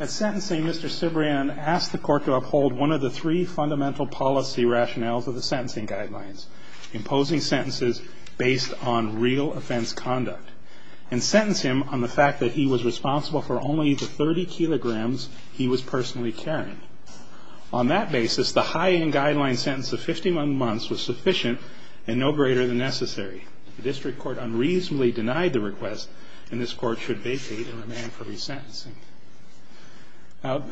At sentencing, Mr. Cibrian asked the court to uphold one of the three fundamental policy rationales of the sentencing guidelines, imposing sentences based on real offense conduct and sentence him on the fact that he was responsible for only the 30 kilograms he was personally carrying. On that basis, the high-end guideline sentence of 51 months was sufficient and no further court unreasonably denied the request, and this Court should vacate and remand for resentencing. Now,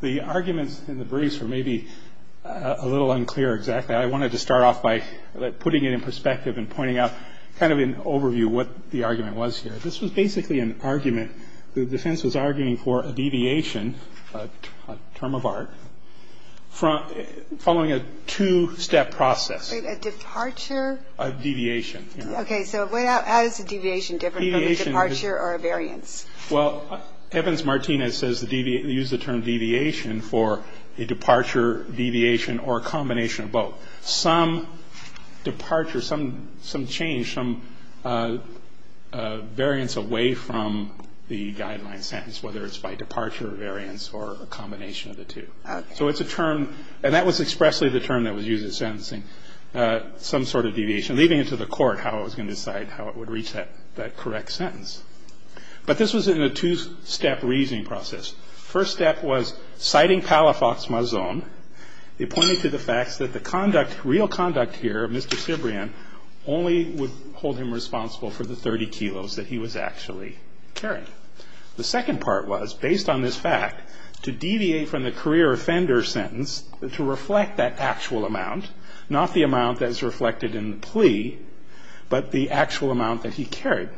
the arguments in the briefs were maybe a little unclear exactly. I wanted to start off by putting it in perspective and pointing out kind of an overview what the argument was here. This was basically an argument. The defense was arguing for a deviation, a term of art, following a two-step process. Sotomayor A departure? Cibrian-Quintero A deviation, yes. Sotomayor A Okay. So how is a deviation different from a departure or a variance? Cibrian-Quintero Well, evidence Martinez says the use of the term deviation for a departure, deviation, or a combination of both. Some departure, some change, some variance away from the guideline sentence, whether it's by departure or variance or a combination of the two. Sotomayor A Okay. Cibrian-Quintero So it's a term, and that was expressly the term that was used in sentencing, some sort of deviation, leaving it to the court how it was going to decide how it would reach that correct sentence. But this was in a two-step reasoning process. First step was citing Palafox-Mazon. It pointed to the facts that the conduct, real conduct here of Mr. Cibrian, only would hold him responsible for the 30 kilos that he was actually carrying. The second part was, based on this fact, to deviate from the career offender sentence to reflect that actual amount, not the amount that is reflected in the plea, but the actual amount that he carried.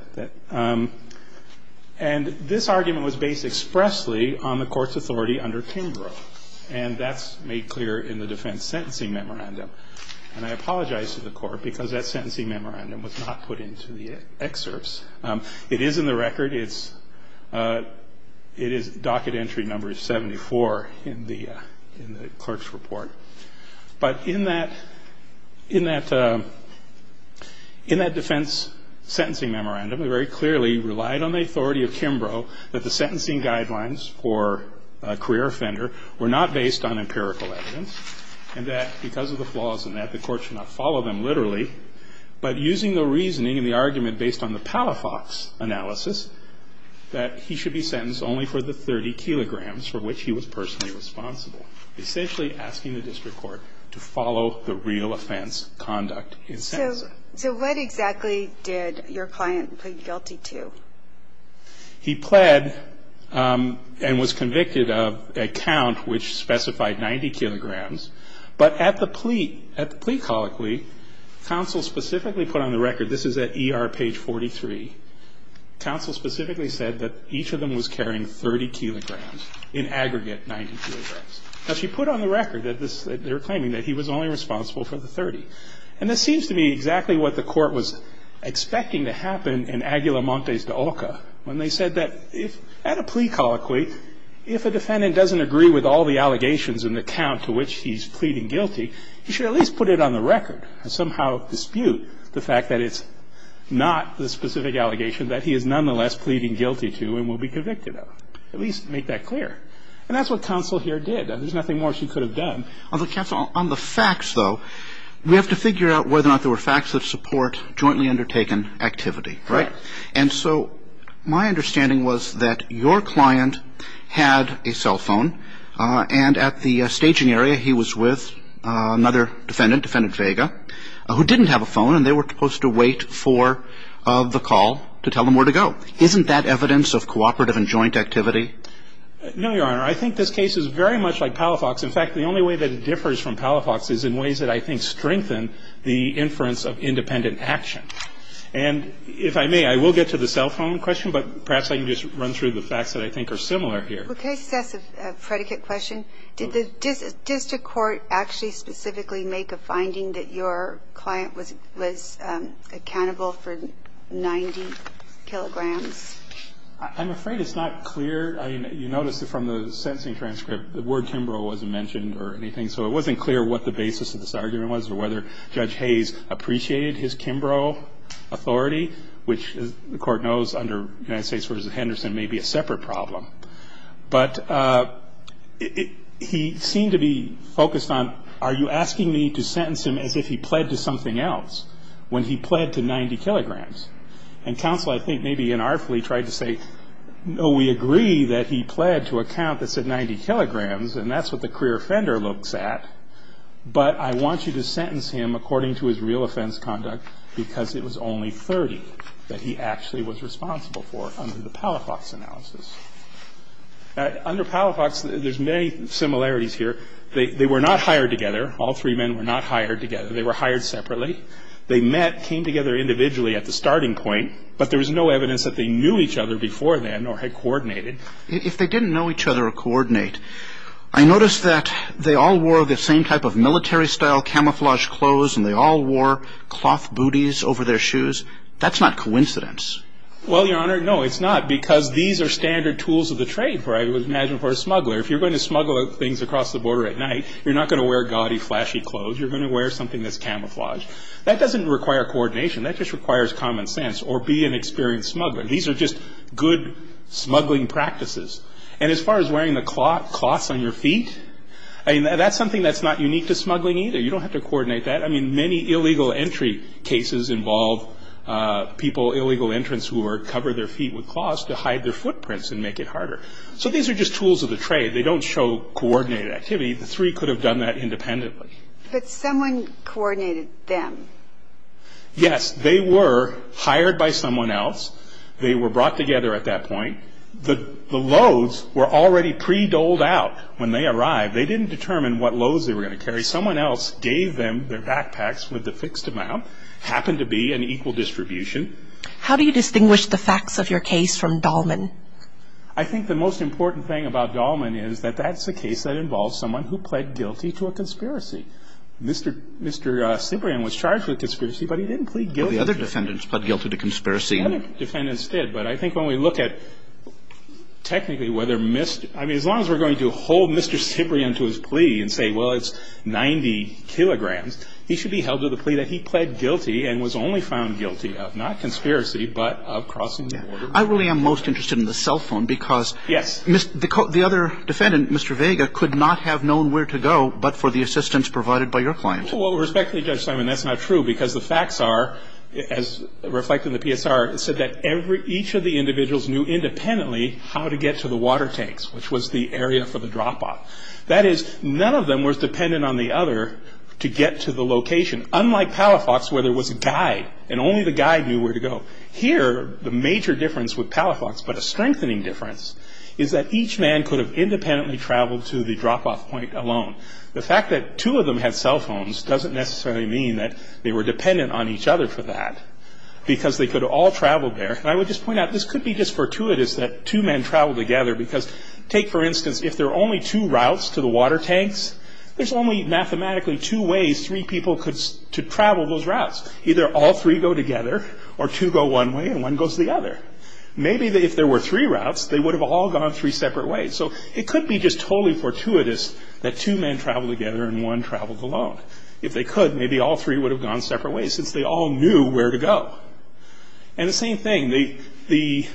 And this argument was based expressly on the court's authority under Kimbrough. And that's made clear in the defense sentencing memorandum. And I apologize to the court because that sentencing memorandum was not put into the excerpts. It is in the record. It is docket entry number 74 in the clerk's report. But in that defense sentencing memorandum, it very clearly relied on the authority of Kimbrough that the sentencing guidelines for a career offender were not based on empirical evidence, and that because of the flaws in that, the court should not follow them literally. But using the reasoning and the argument based on the Palafox analysis, that he should be sentenced only for the 30 kilograms for which he was personally responsible, essentially asking the district court to follow the real offense conduct in sentencing. So what exactly did your client plead guilty to? He pled and was convicted of a count which specified 90 kilograms. But at the plea colloquy, counsel specifically put on the record, this is at ER page 43, counsel specifically said that each of them was carrying 30 kilograms in aggregate, 90 kilograms. Now, she put on the record that they were claiming that he was only responsible for the 30. And this seems to me exactly what the court was expecting to happen in Aguila Montes de Olca when they said that at a plea colloquy, if a defendant doesn't agree with all the allegations and the count to which he's pleading guilty, he should at least put it on the record and somehow dispute the fact that it's not the specific allegation that he is nonetheless pleading guilty to and will be convicted of, at least make that clear. And that's what counsel here did. There's nothing more she could have done. Although, counsel, on the facts, though, we have to figure out whether or not there were facts that support jointly undertaken activity, right? And so my understanding was that your client had a cell phone and at the staging area, he was with another defendant, Defendant Vega, who didn't have a phone and they were supposed to wait for the call to tell them where to go. Isn't that evidence of cooperative and joint activity? No, Your Honor. I think this case is very much like Palafox. In fact, the only way that it differs from Palafox is in ways that I think strengthen the inference of independent action. And if I may, I will get to the cell phone question, but perhaps I can just run through the facts that I think are similar here. Well, can I just ask a predicate question? Did the district court actually specifically make a finding that your client was accountable for 90 kilograms? I'm afraid it's not clear. I mean, you notice that from the sentencing transcript, the word Kimbrough wasn't mentioned or anything. So it wasn't clear what the basis of this argument was or whether Judge Hayes appreciated his Kimbrough authority, which the court knows under United States v. Henderson may be a separate problem. But he seemed to be focused on, are you asking me to sentence him as if he pled to something else when he pled to 90 kilograms? And counsel, I think, maybe inartfully tried to say, no, we agree that he pled to a count that said 90 kilograms and that's what the career offender looks at. But I want you to sentence him according to his real offense conduct because it was only 30 that he actually was responsible for under the Palafox analysis. Under Palafox, there's many similarities here. They were not hired together. All three men were not hired together. They were hired separately. They met, came together individually at the starting point, but there was no evidence that they knew each other before then or had coordinated. If they didn't know each other or coordinate, I noticed that they all wore the same type of military style camouflage clothes and they all wore cloth booties over their shoes. That's not coincidence. Well, Your Honor, no, it's not because these are standard tools of the trade, I would imagine, for a smuggler. If you're going to smuggle things across the border at night, you're not going to wear gaudy, flashy clothes. You're going to wear something that's camouflaged. That doesn't require coordination. That just requires common sense or be an experienced smuggler. These are just good smuggling practices. And as far as wearing the cloths on your feet, that's something that's not unique to smuggling either. You don't have to coordinate that. I mean, many illegal entry cases involve people, illegal entrants, who cover their feet with cloths to hide their footprints and make it harder. So these are just tools of the trade. They don't show coordinated activity. The three could have done that independently. But someone coordinated them. Yes, they were hired by someone else. They were brought together at that point. The loads were already pre-dolled out when they arrived. They didn't determine what loads they were going to carry. Someone else gave them their backpacks with the fixed amount, happened to be an equal distribution. How do you distinguish the facts of your case from Dahlman? I think the most important thing about Dahlman is that that's a case that involves someone who pled guilty to a conspiracy. Mr. Cibrian was charged with a conspiracy, but he didn't plead guilty. The other defendants pled guilty to conspiracy. The other defendants did. But I think when we look at technically whether Mr. I mean, as long as we're going to hold Mr. Cibrian to his plea and say, well, it's 90 kilograms, he should be held to the plea that he pled guilty and was only found guilty of, not conspiracy, but of crossing the border. I really am most interested in the cell phone because the other defendant, Mr. Vega, could not have known where to go but for the assistance provided by your client. Well, respectfully, Judge Simon, that's not true because the facts are, as reflected in the PSR, it said that each of the individuals knew independently how to get to the water tanks, which was the area for the drop off. That is, none of them was dependent on the other to get to the location, unlike Palafox, where there was a guide, and only the guide knew where to go. Here, the major difference with Palafox, but a strengthening difference, is that each man could have independently traveled to the drop off point alone. The fact that two of them had cell phones doesn't necessarily mean that they were dependent on each other for that, because they could all travel there. And I would just point out, this could be just fortuitous that two men travel together, because take, for instance, if there are only two routes to the water tanks, there's only mathematically two ways three people could travel those routes. Either all three go together, or two go one way and one goes the other. Maybe if there were three routes, they would have all gone three separate ways. So it could be just totally fortuitous that two men travel together and one traveled alone. If they could, maybe all three would have gone separate ways, since they all knew where to go. And the same thing, the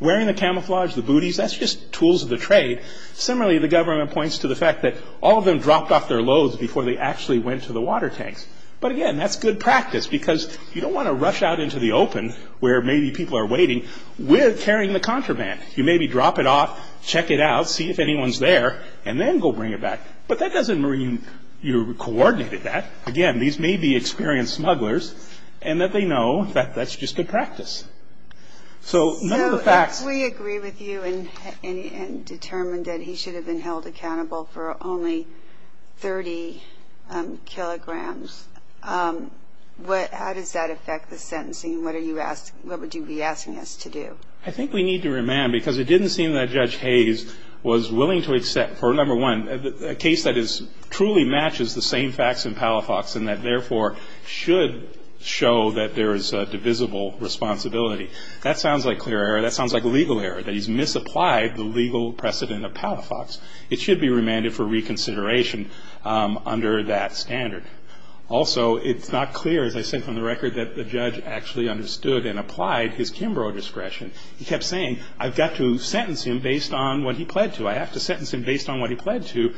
wearing the camouflage, the booties, that's just tools of the trade. Similarly, the government points to the fact that all of them dropped off their loads before they actually went to the water tanks. But again, that's good practice, because you don't want to rush out into the open where maybe people are waiting with carrying the contraband. You maybe drop it off, check it out, see if anyone's there, and then go bring it back. But that doesn't mean you coordinated that. Again, these may be experienced smugglers, and that they know that that's just good practice. So none of the facts- So if we agree with you and determined that he should have been held accountable for only 30 kilograms, how does that affect the sentencing? What would you be asking us to do? I think we need to remand, because it didn't seem that Judge Hayes was willing to accept, for number one, a case that truly matches the same facts in Palafox, and that therefore should show that there is divisible responsibility. That sounds like clear error. That sounds like legal error, that he's misapplied the legal precedent of Palafox. It should be remanded for reconsideration under that standard. Also, it's not clear, as I said from the record, that the judge actually understood and applied his Kimbrough discretion. He kept saying, I've got to sentence him based on what he pled to. I have to sentence him based on what he pled to.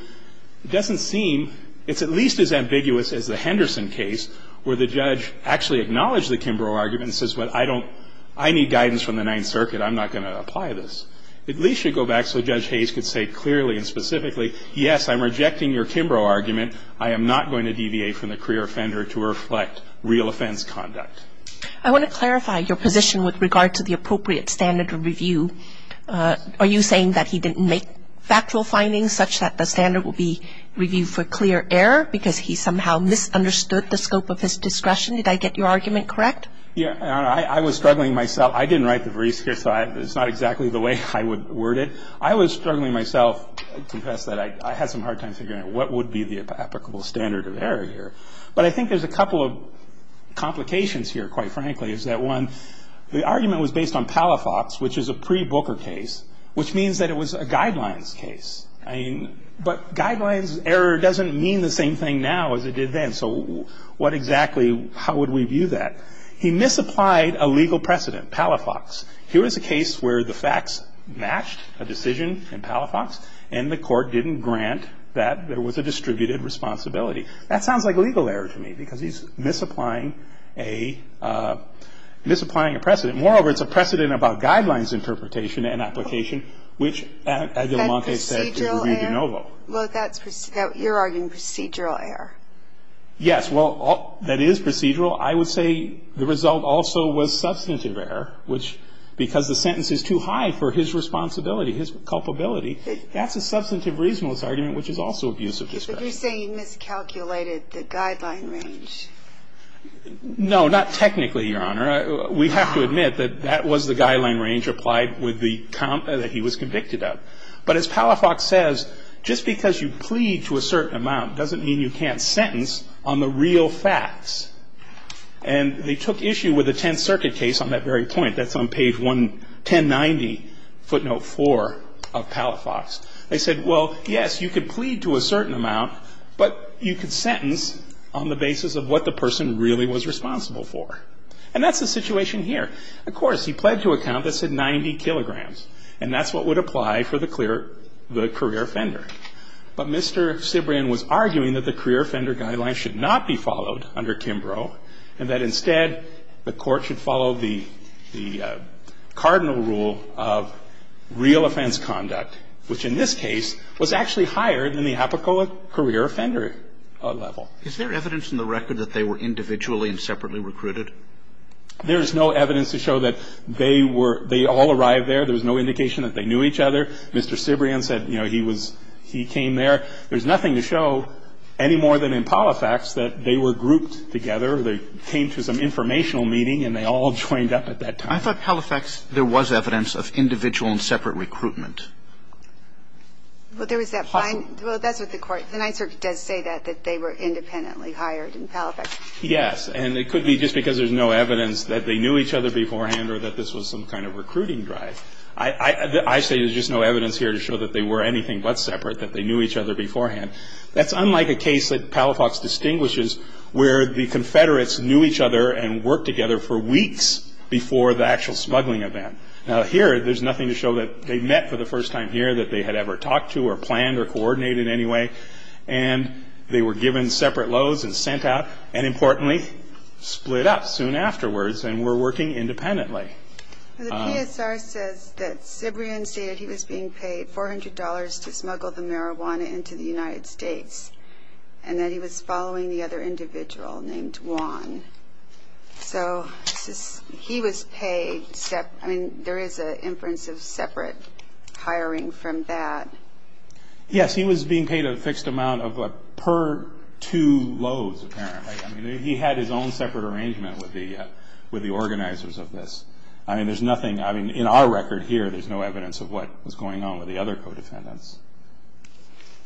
It doesn't seem, it's at least as ambiguous as the Henderson case, where the judge actually acknowledged the Kimbrough argument and says, well, I don't, I need guidance from the Ninth Circuit. I'm not going to apply this. At least you go back so Judge Hayes could say clearly and specifically, yes, I'm rejecting your Kimbrough argument. I am not going to deviate from the career offender to reflect real offense conduct. I want to clarify your position with regard to the appropriate standard of review. Are you saying that he didn't make factual findings such that the standard will be reviewed for clear error because he somehow misunderstood the scope of his discretion? Did I get your argument correct? Yeah, I was struggling myself. I didn't write the verse here, so it's not exactly the way I would word it. I was struggling myself to confess that I had some hard time figuring out what would be the applicable standard of error here, but I think there's a couple of complications here, quite frankly, is that one, the argument was based on Palafox, which is a pre-Booker case, which means that it was a guidelines case. I mean, but guidelines error doesn't mean the same thing now as it did then, so what exactly, how would we view that? He misapplied a legal precedent, Palafox. Here is a case where the facts matched a decision in Palafox, and the court didn't grant that there was a distributed responsibility. That sounds like legal error to me, because he's misapplying a precedent. Moreover, it's a precedent about guidelines interpretation and application, which, as Del Monte said, is ruby de novo. Well, that's, you're arguing procedural error. Yes, well, that is procedural. I would say the result also was substantive error, which, because the sentence is too high for his responsibility, his culpability. That's a substantive reasonableness argument, which is also abuse of discretion. But you're saying he miscalculated the guideline range. No, not technically, Your Honor. We have to admit that that was the guideline range applied with the count that he was convicted of. But as Palafox says, just because you plead to a certain amount doesn't mean you can't sentence on the real facts. And they took issue with the Tenth Circuit case on that very point. That's on page 11090, footnote 4 of Palafox. They said, well, yes, you could plead to a certain amount, but you could sentence on the basis of what the person really was responsible for. And that's the situation here. Of course, he pled to a count that said 90 kilograms. And that's what would apply for the career offender. But Mr. Cibrian was arguing that the career offender guideline should not be followed under Kimbrough, and that instead the court should follow the cardinal rule of real offense conduct, which, in this case, was actually higher than the apical career offender level. Is there evidence in the record that they were individually and separately recruited? There is no evidence to show that they were they all arrived there. There was no indication that they knew each other. Mr. Cibrian said, you know, he was he came there. There's nothing to show any more than in Palafox that they were grouped together. They came to some informational meeting, and they all joined up at that time. I thought Palafox, there was evidence of individual and separate recruitment. Well, there was that fine. Well, that's what the court, the Ninth Circuit does say that, that they were independently hired in Palafox. Yes. And it could be just because there's no evidence that they knew each other beforehand or that this was some kind of recruiting drive. I say there's just no evidence here to show that they were anything but separate, that they knew each other beforehand. That's unlike a case that Palafox distinguishes, where the Confederates knew each other and worked together for weeks before the actual smuggling event. Now, here, there's nothing to show that they met for the first time here, that they had ever talked to or planned or coordinated anyway. And they were given separate loads and sent out, and importantly, split up soon afterwards and were working independently. The PSR says that Sibrian stated he was being paid $400 to smuggle the marijuana into the United States, and that he was following the other individual named Juan. So he was paid separate, I mean, there is an inference of separate hiring from that. Yes, he was being paid a fixed amount of what, per two loads, apparently. He had his own separate arrangement with the organizers of this. I mean, there's nothing, I mean, in our record here, there's no evidence of what was going on with the other co-defendants.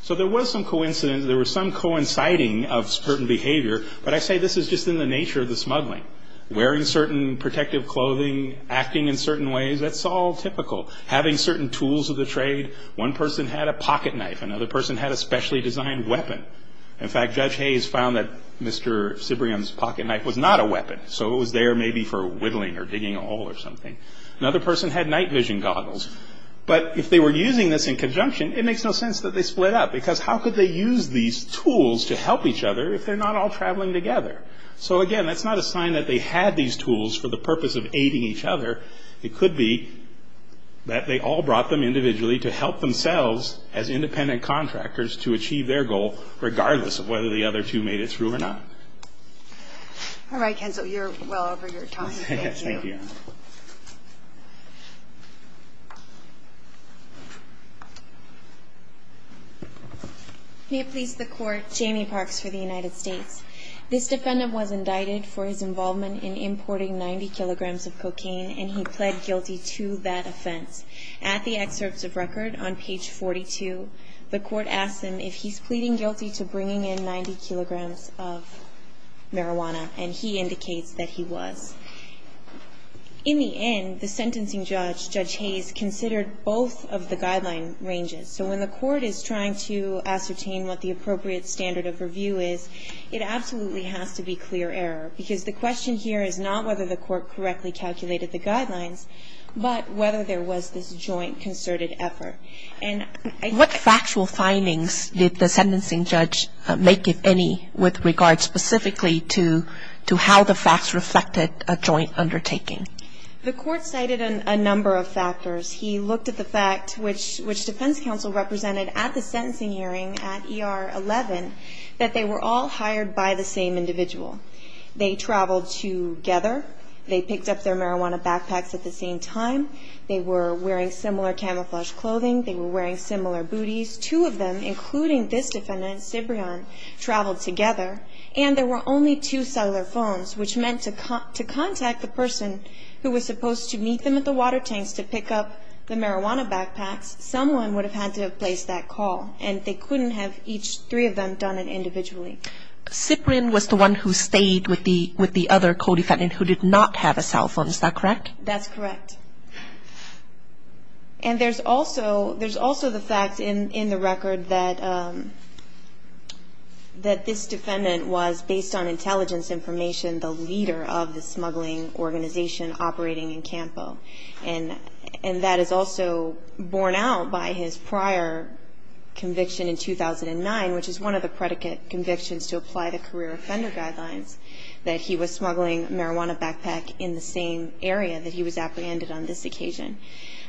So there was some coincidence, there was some coinciding of certain behavior, but I say this is just in the nature of the smuggling. Wearing certain protective clothing, acting in certain ways, that's all typical. Having certain tools of the trade, one person had a pocket knife, another person had a specially designed weapon. In fact, Judge Hayes found that Mr. Sibrian's pocket knife was not a weapon, so it was there maybe for whittling or digging a hole or something. Another person had night vision goggles. But if they were using this in conjunction, it makes no sense that they split up, because how could they use these tools to help each other if they're not all traveling together? So again, that's not a sign that they had these tools for the purpose of aiding each other. It could be that they all brought them individually to help themselves as independent contractors to achieve their goal, regardless of whether the other two made it through or not. All right, Kenzo, you're well over your time, so thank you. May it please the Court, Jamie Parks for the United States. This defendant was indicted for his involvement in importing 90 kilograms of cocaine, and he pled guilty to that offense. At the excerpts of record on page 42, the Court asks him if he's pleading guilty to bringing in 90 kilograms of marijuana, and he indicates that he was. In the end, the sentencing judge, Judge Hayes, considered both of the guideline ranges. So when the Court is trying to ascertain what the appropriate standard of review is, it absolutely has to be clear error, because the question here is not whether the Court correctly calculated the guidelines, but whether there was this joint concerted effort. And I think the Court has to be clear on that. What factual findings did the sentencing judge make, if any, with regard specifically to how the facts reflected a joint undertaking? The Court cited a number of factors. He looked at the fact, which defense counsel represented at the sentencing hearing at ER 11, that they were all hired by the same individual. They traveled together. They picked up their marijuana backpacks at the same time. They were wearing similar camouflage clothing. They were wearing similar booties. Two of them, including this defendant, Cibrian, traveled together, and there were only two cellular phones, which meant to contact the person who was supposed to meet them at the water tanks to pick up the marijuana backpacks, someone would have had to have placed that call, and they couldn't have, each three of them, done it individually. Cibrian was the one who stayed with the other co-defendant who did not have a cell phone, is that correct? That's correct. And there's also the fact in the record that this defendant was, based on intelligence information, the leader of the smuggling organization operating in Campo, and that is also borne out by his prior conviction in 2009, which is one of the predicate convictions to apply the career offender guidelines, that he was smuggling marijuana backpack in the same area that he was apprehended on this occasion.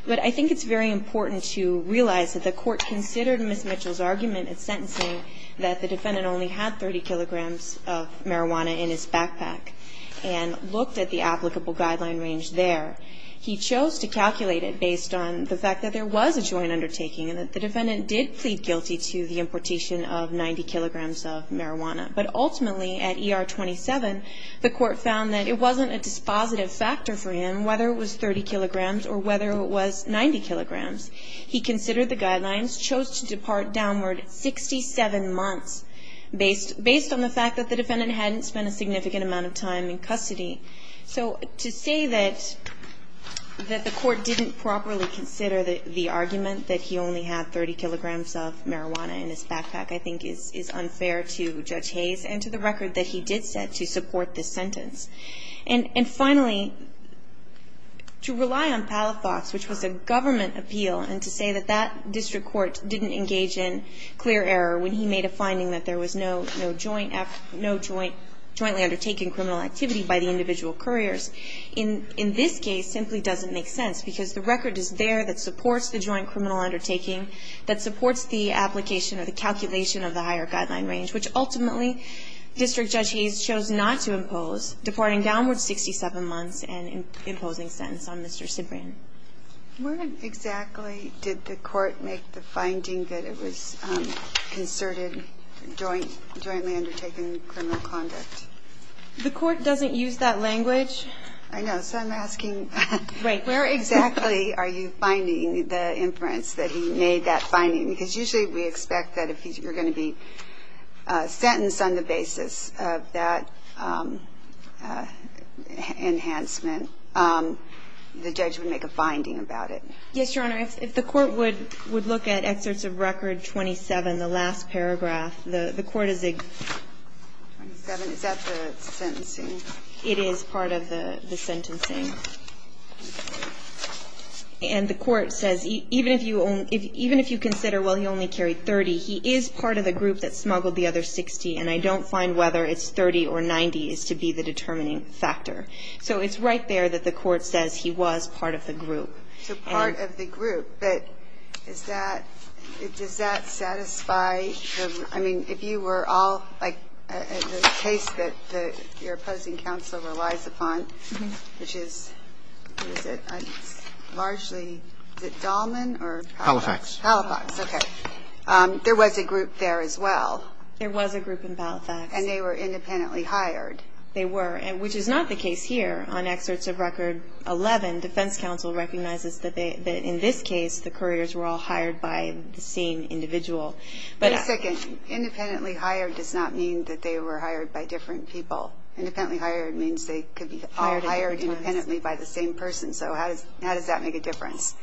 But I think it's very important to realize that the court considered Ms. Mitchell's argument at sentencing that the defendant only had 30 kilograms of marijuana in his backpack and looked at the applicable guideline range there. He chose to calculate it based on the fact that there was a joint undertaking and that the defendant did plead guilty to the importation of 90 kilograms of marijuana. But ultimately, at ER 27, the court found that it wasn't a dispositive factor for him whether it was 30 kilograms or whether it was 90 kilograms. He considered the guidelines, chose to depart downward 67 months based on the fact that the defendant hadn't spent a significant amount of time in custody. So to say that the court didn't properly consider the argument that he only had 30 kilograms of marijuana in his backpack I think is unfair to Judge Hayes and to the record that he did set to support this sentence. And finally, to rely on Palafox, which was a government appeal, and to say that that district court didn't engage in clear error when he made a finding that there was no jointly undertaken criminal activity by the individual couriers, in this case, simply doesn't make sense because the record is there that supports the joint criminal undertaking, that supports the application or the calculation of the higher guideline range, which ultimately District Judge Hayes chose not to impose, departing downward 67 months and imposing sentence on Mr. Cibrian. Where exactly did the court make the finding that it was concerted jointly undertaken criminal conduct? The court doesn't use that language. I know. So I'm asking where exactly are you finding the inference that he made that finding? Because usually we expect that if you're going to be sentenced on the basis of that enhancement, the judge would make a finding about it. Yes, Your Honor. If the court would look at excerpts of Record 27, the last paragraph, the court is going to say, is that the sentencing? It is part of the sentencing. And the court says even if you consider, well, he only carried 30, he is part of the group that smuggled the other 60, and I don't find whether it's 30 or 90 is to be the determining factor. So it's right there that the court says he was part of the group. So part of the group. But is that, does that satisfy the, I mean, if you were all, like, the case that your opposing counsel relies upon, which is, what is it, largely, is it Dahlman or Halifax? Halifax. Halifax. Okay. There was a group there as well. There was a group in Halifax. And they were independently hired. They were, which is not the case here. On excerpts of record 11, defense counsel recognizes that in this case, the couriers were all hired by the same individual. But. Wait a second. Independently hired does not mean that they were hired by different people. Independently hired means they could be all hired independently by the same person. So how does that make a difference?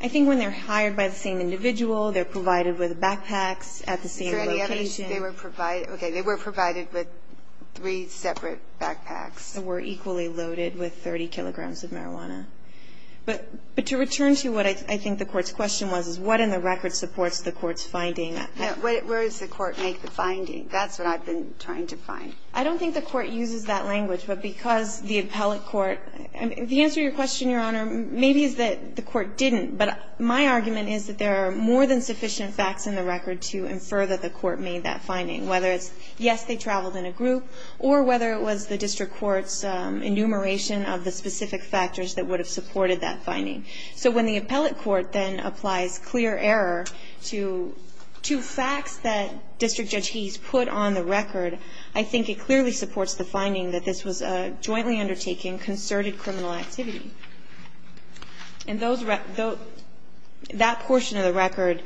I think when they're hired by the same individual, they're provided with backpacks at the same location. Is there any other? They were provided. They were provided with three separate backpacks. They were equally loaded with 30 kilograms of marijuana. But to return to what I think the Court's question was, is what in the record supports the Court's finding? Where does the Court make the finding? That's what I've been trying to find. I don't think the Court uses that language. But because the appellate court, the answer to your question, Your Honor, maybe is that the Court didn't. But my argument is that there are more than sufficient facts in the record to infer that the Court made that finding, whether it's, yes, they traveled in a group, or whether it was the district court's enumeration of the specific factors that would have supported that finding. So when the appellate court then applies clear error to facts that District Judge Heath put on the record, I think it clearly supports the finding that this was a jointly undertaken, concerted criminal activity. And that portion of the record,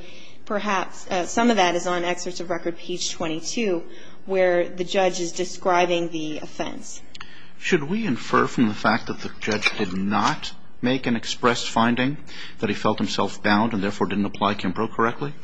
perhaps, some of that is on excerpts of record page 22, where the judge is describing the offense. Should we infer from the fact that the judge did not make an expressed finding that he felt himself bound and therefore didn't apply Kimbrough correctly?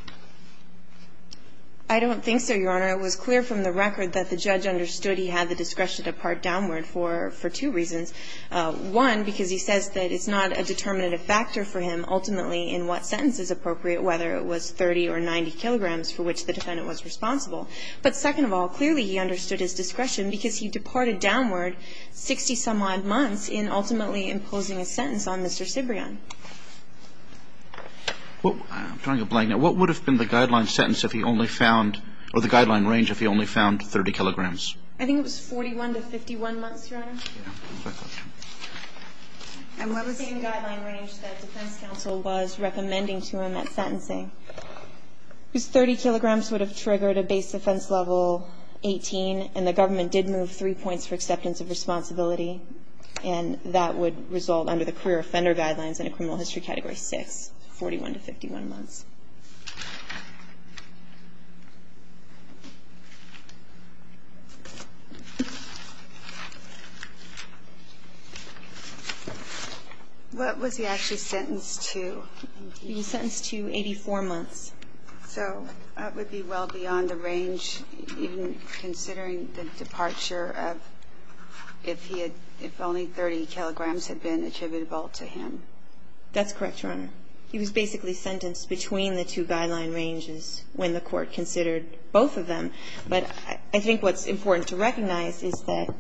I don't think so, Your Honor. It was clear from the record that the judge understood he had the discretion to part downward for two reasons. One, because he says that it's not a determinative factor for him ultimately in what sentence is appropriate, whether it was 30 or 90 kilograms for which the defendant was responsible. But second of all, clearly he understood his discretion because he departed downward 60-some-odd months in ultimately imposing a sentence on Mr. Cibrian. Well, I'm trying to blank now. What would have been the guideline sentence if he only found, or the guideline range if he only found 30 kilograms? I think it was 41 to 51 months, Your Honor. It was the same guideline range that defense counsel was recommending to him at sentencing. Because 30 kilograms would have triggered a base offense level 18, and the government did move three points for acceptance of responsibility, and that would result under the career offender guidelines in a criminal history category 6, 41 to 51 months. What was he actually sentenced to? He was sentenced to 84 months. So that would be well beyond the range, even considering the departure of if he had – if only 30 kilograms had been attributable to him. That's correct, Your Honor. He was basically sentenced between 84 and 84 months. I don't mean the two guideline ranges when the Court considered both of them. But I think what's important to recognize is that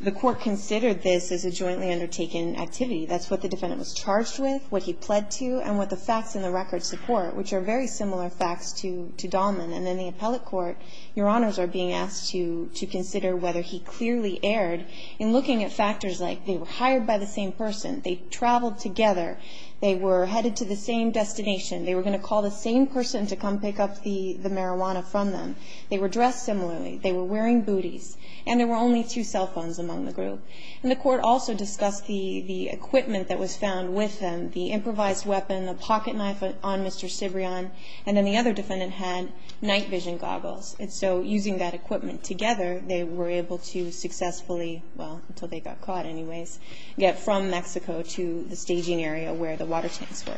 the Court considered this as a jointly undertaken activity. That's what the defendant was charged with, what he pled to, and what the facts in the record support, which are very similar facts to Dahlman. And in the appellate court, Your Honors are being asked to consider whether he clearly erred in looking at factors like they were hired by the same person, they traveled together, they were headed to the same destination, they were going to call the same person to come pick up the marijuana from them, they were dressed similarly, they were wearing booties, and there were only two cell phones among the group. And the Court also discussed the equipment that was found with them, the improvised weapon, the pocket knife on Mr. Cibrian, and then the other defendant had night vision goggles. And so using that equipment together, they were able to successfully – well, until they got caught anyways – get from Mexico to the staging area where the water tanks were.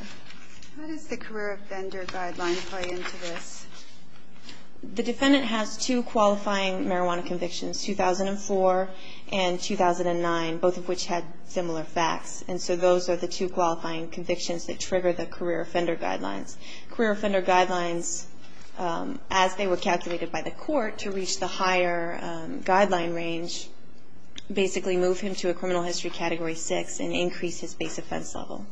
How does the career offender guideline play into this? The defendant has two qualifying marijuana convictions, 2004 and 2009, both of which had similar facts. And so those are the two qualifying convictions that trigger the career offender guidelines. Career offender guidelines, as they were calculated by the Court to reach the higher guideline range, basically move him to a criminal history Category 6 and increase his base offense level.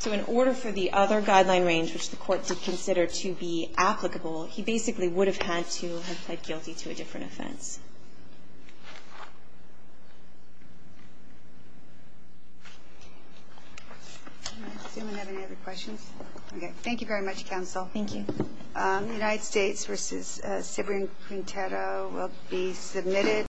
So in order for the other guideline range, which the Court did consider to be applicable, he basically would have had to have pled guilty to a different offense. Does anyone have any other questions? Okay, thank you very much, Counsel. Thank you. The United States v. Cibrian Quintero will be submitted.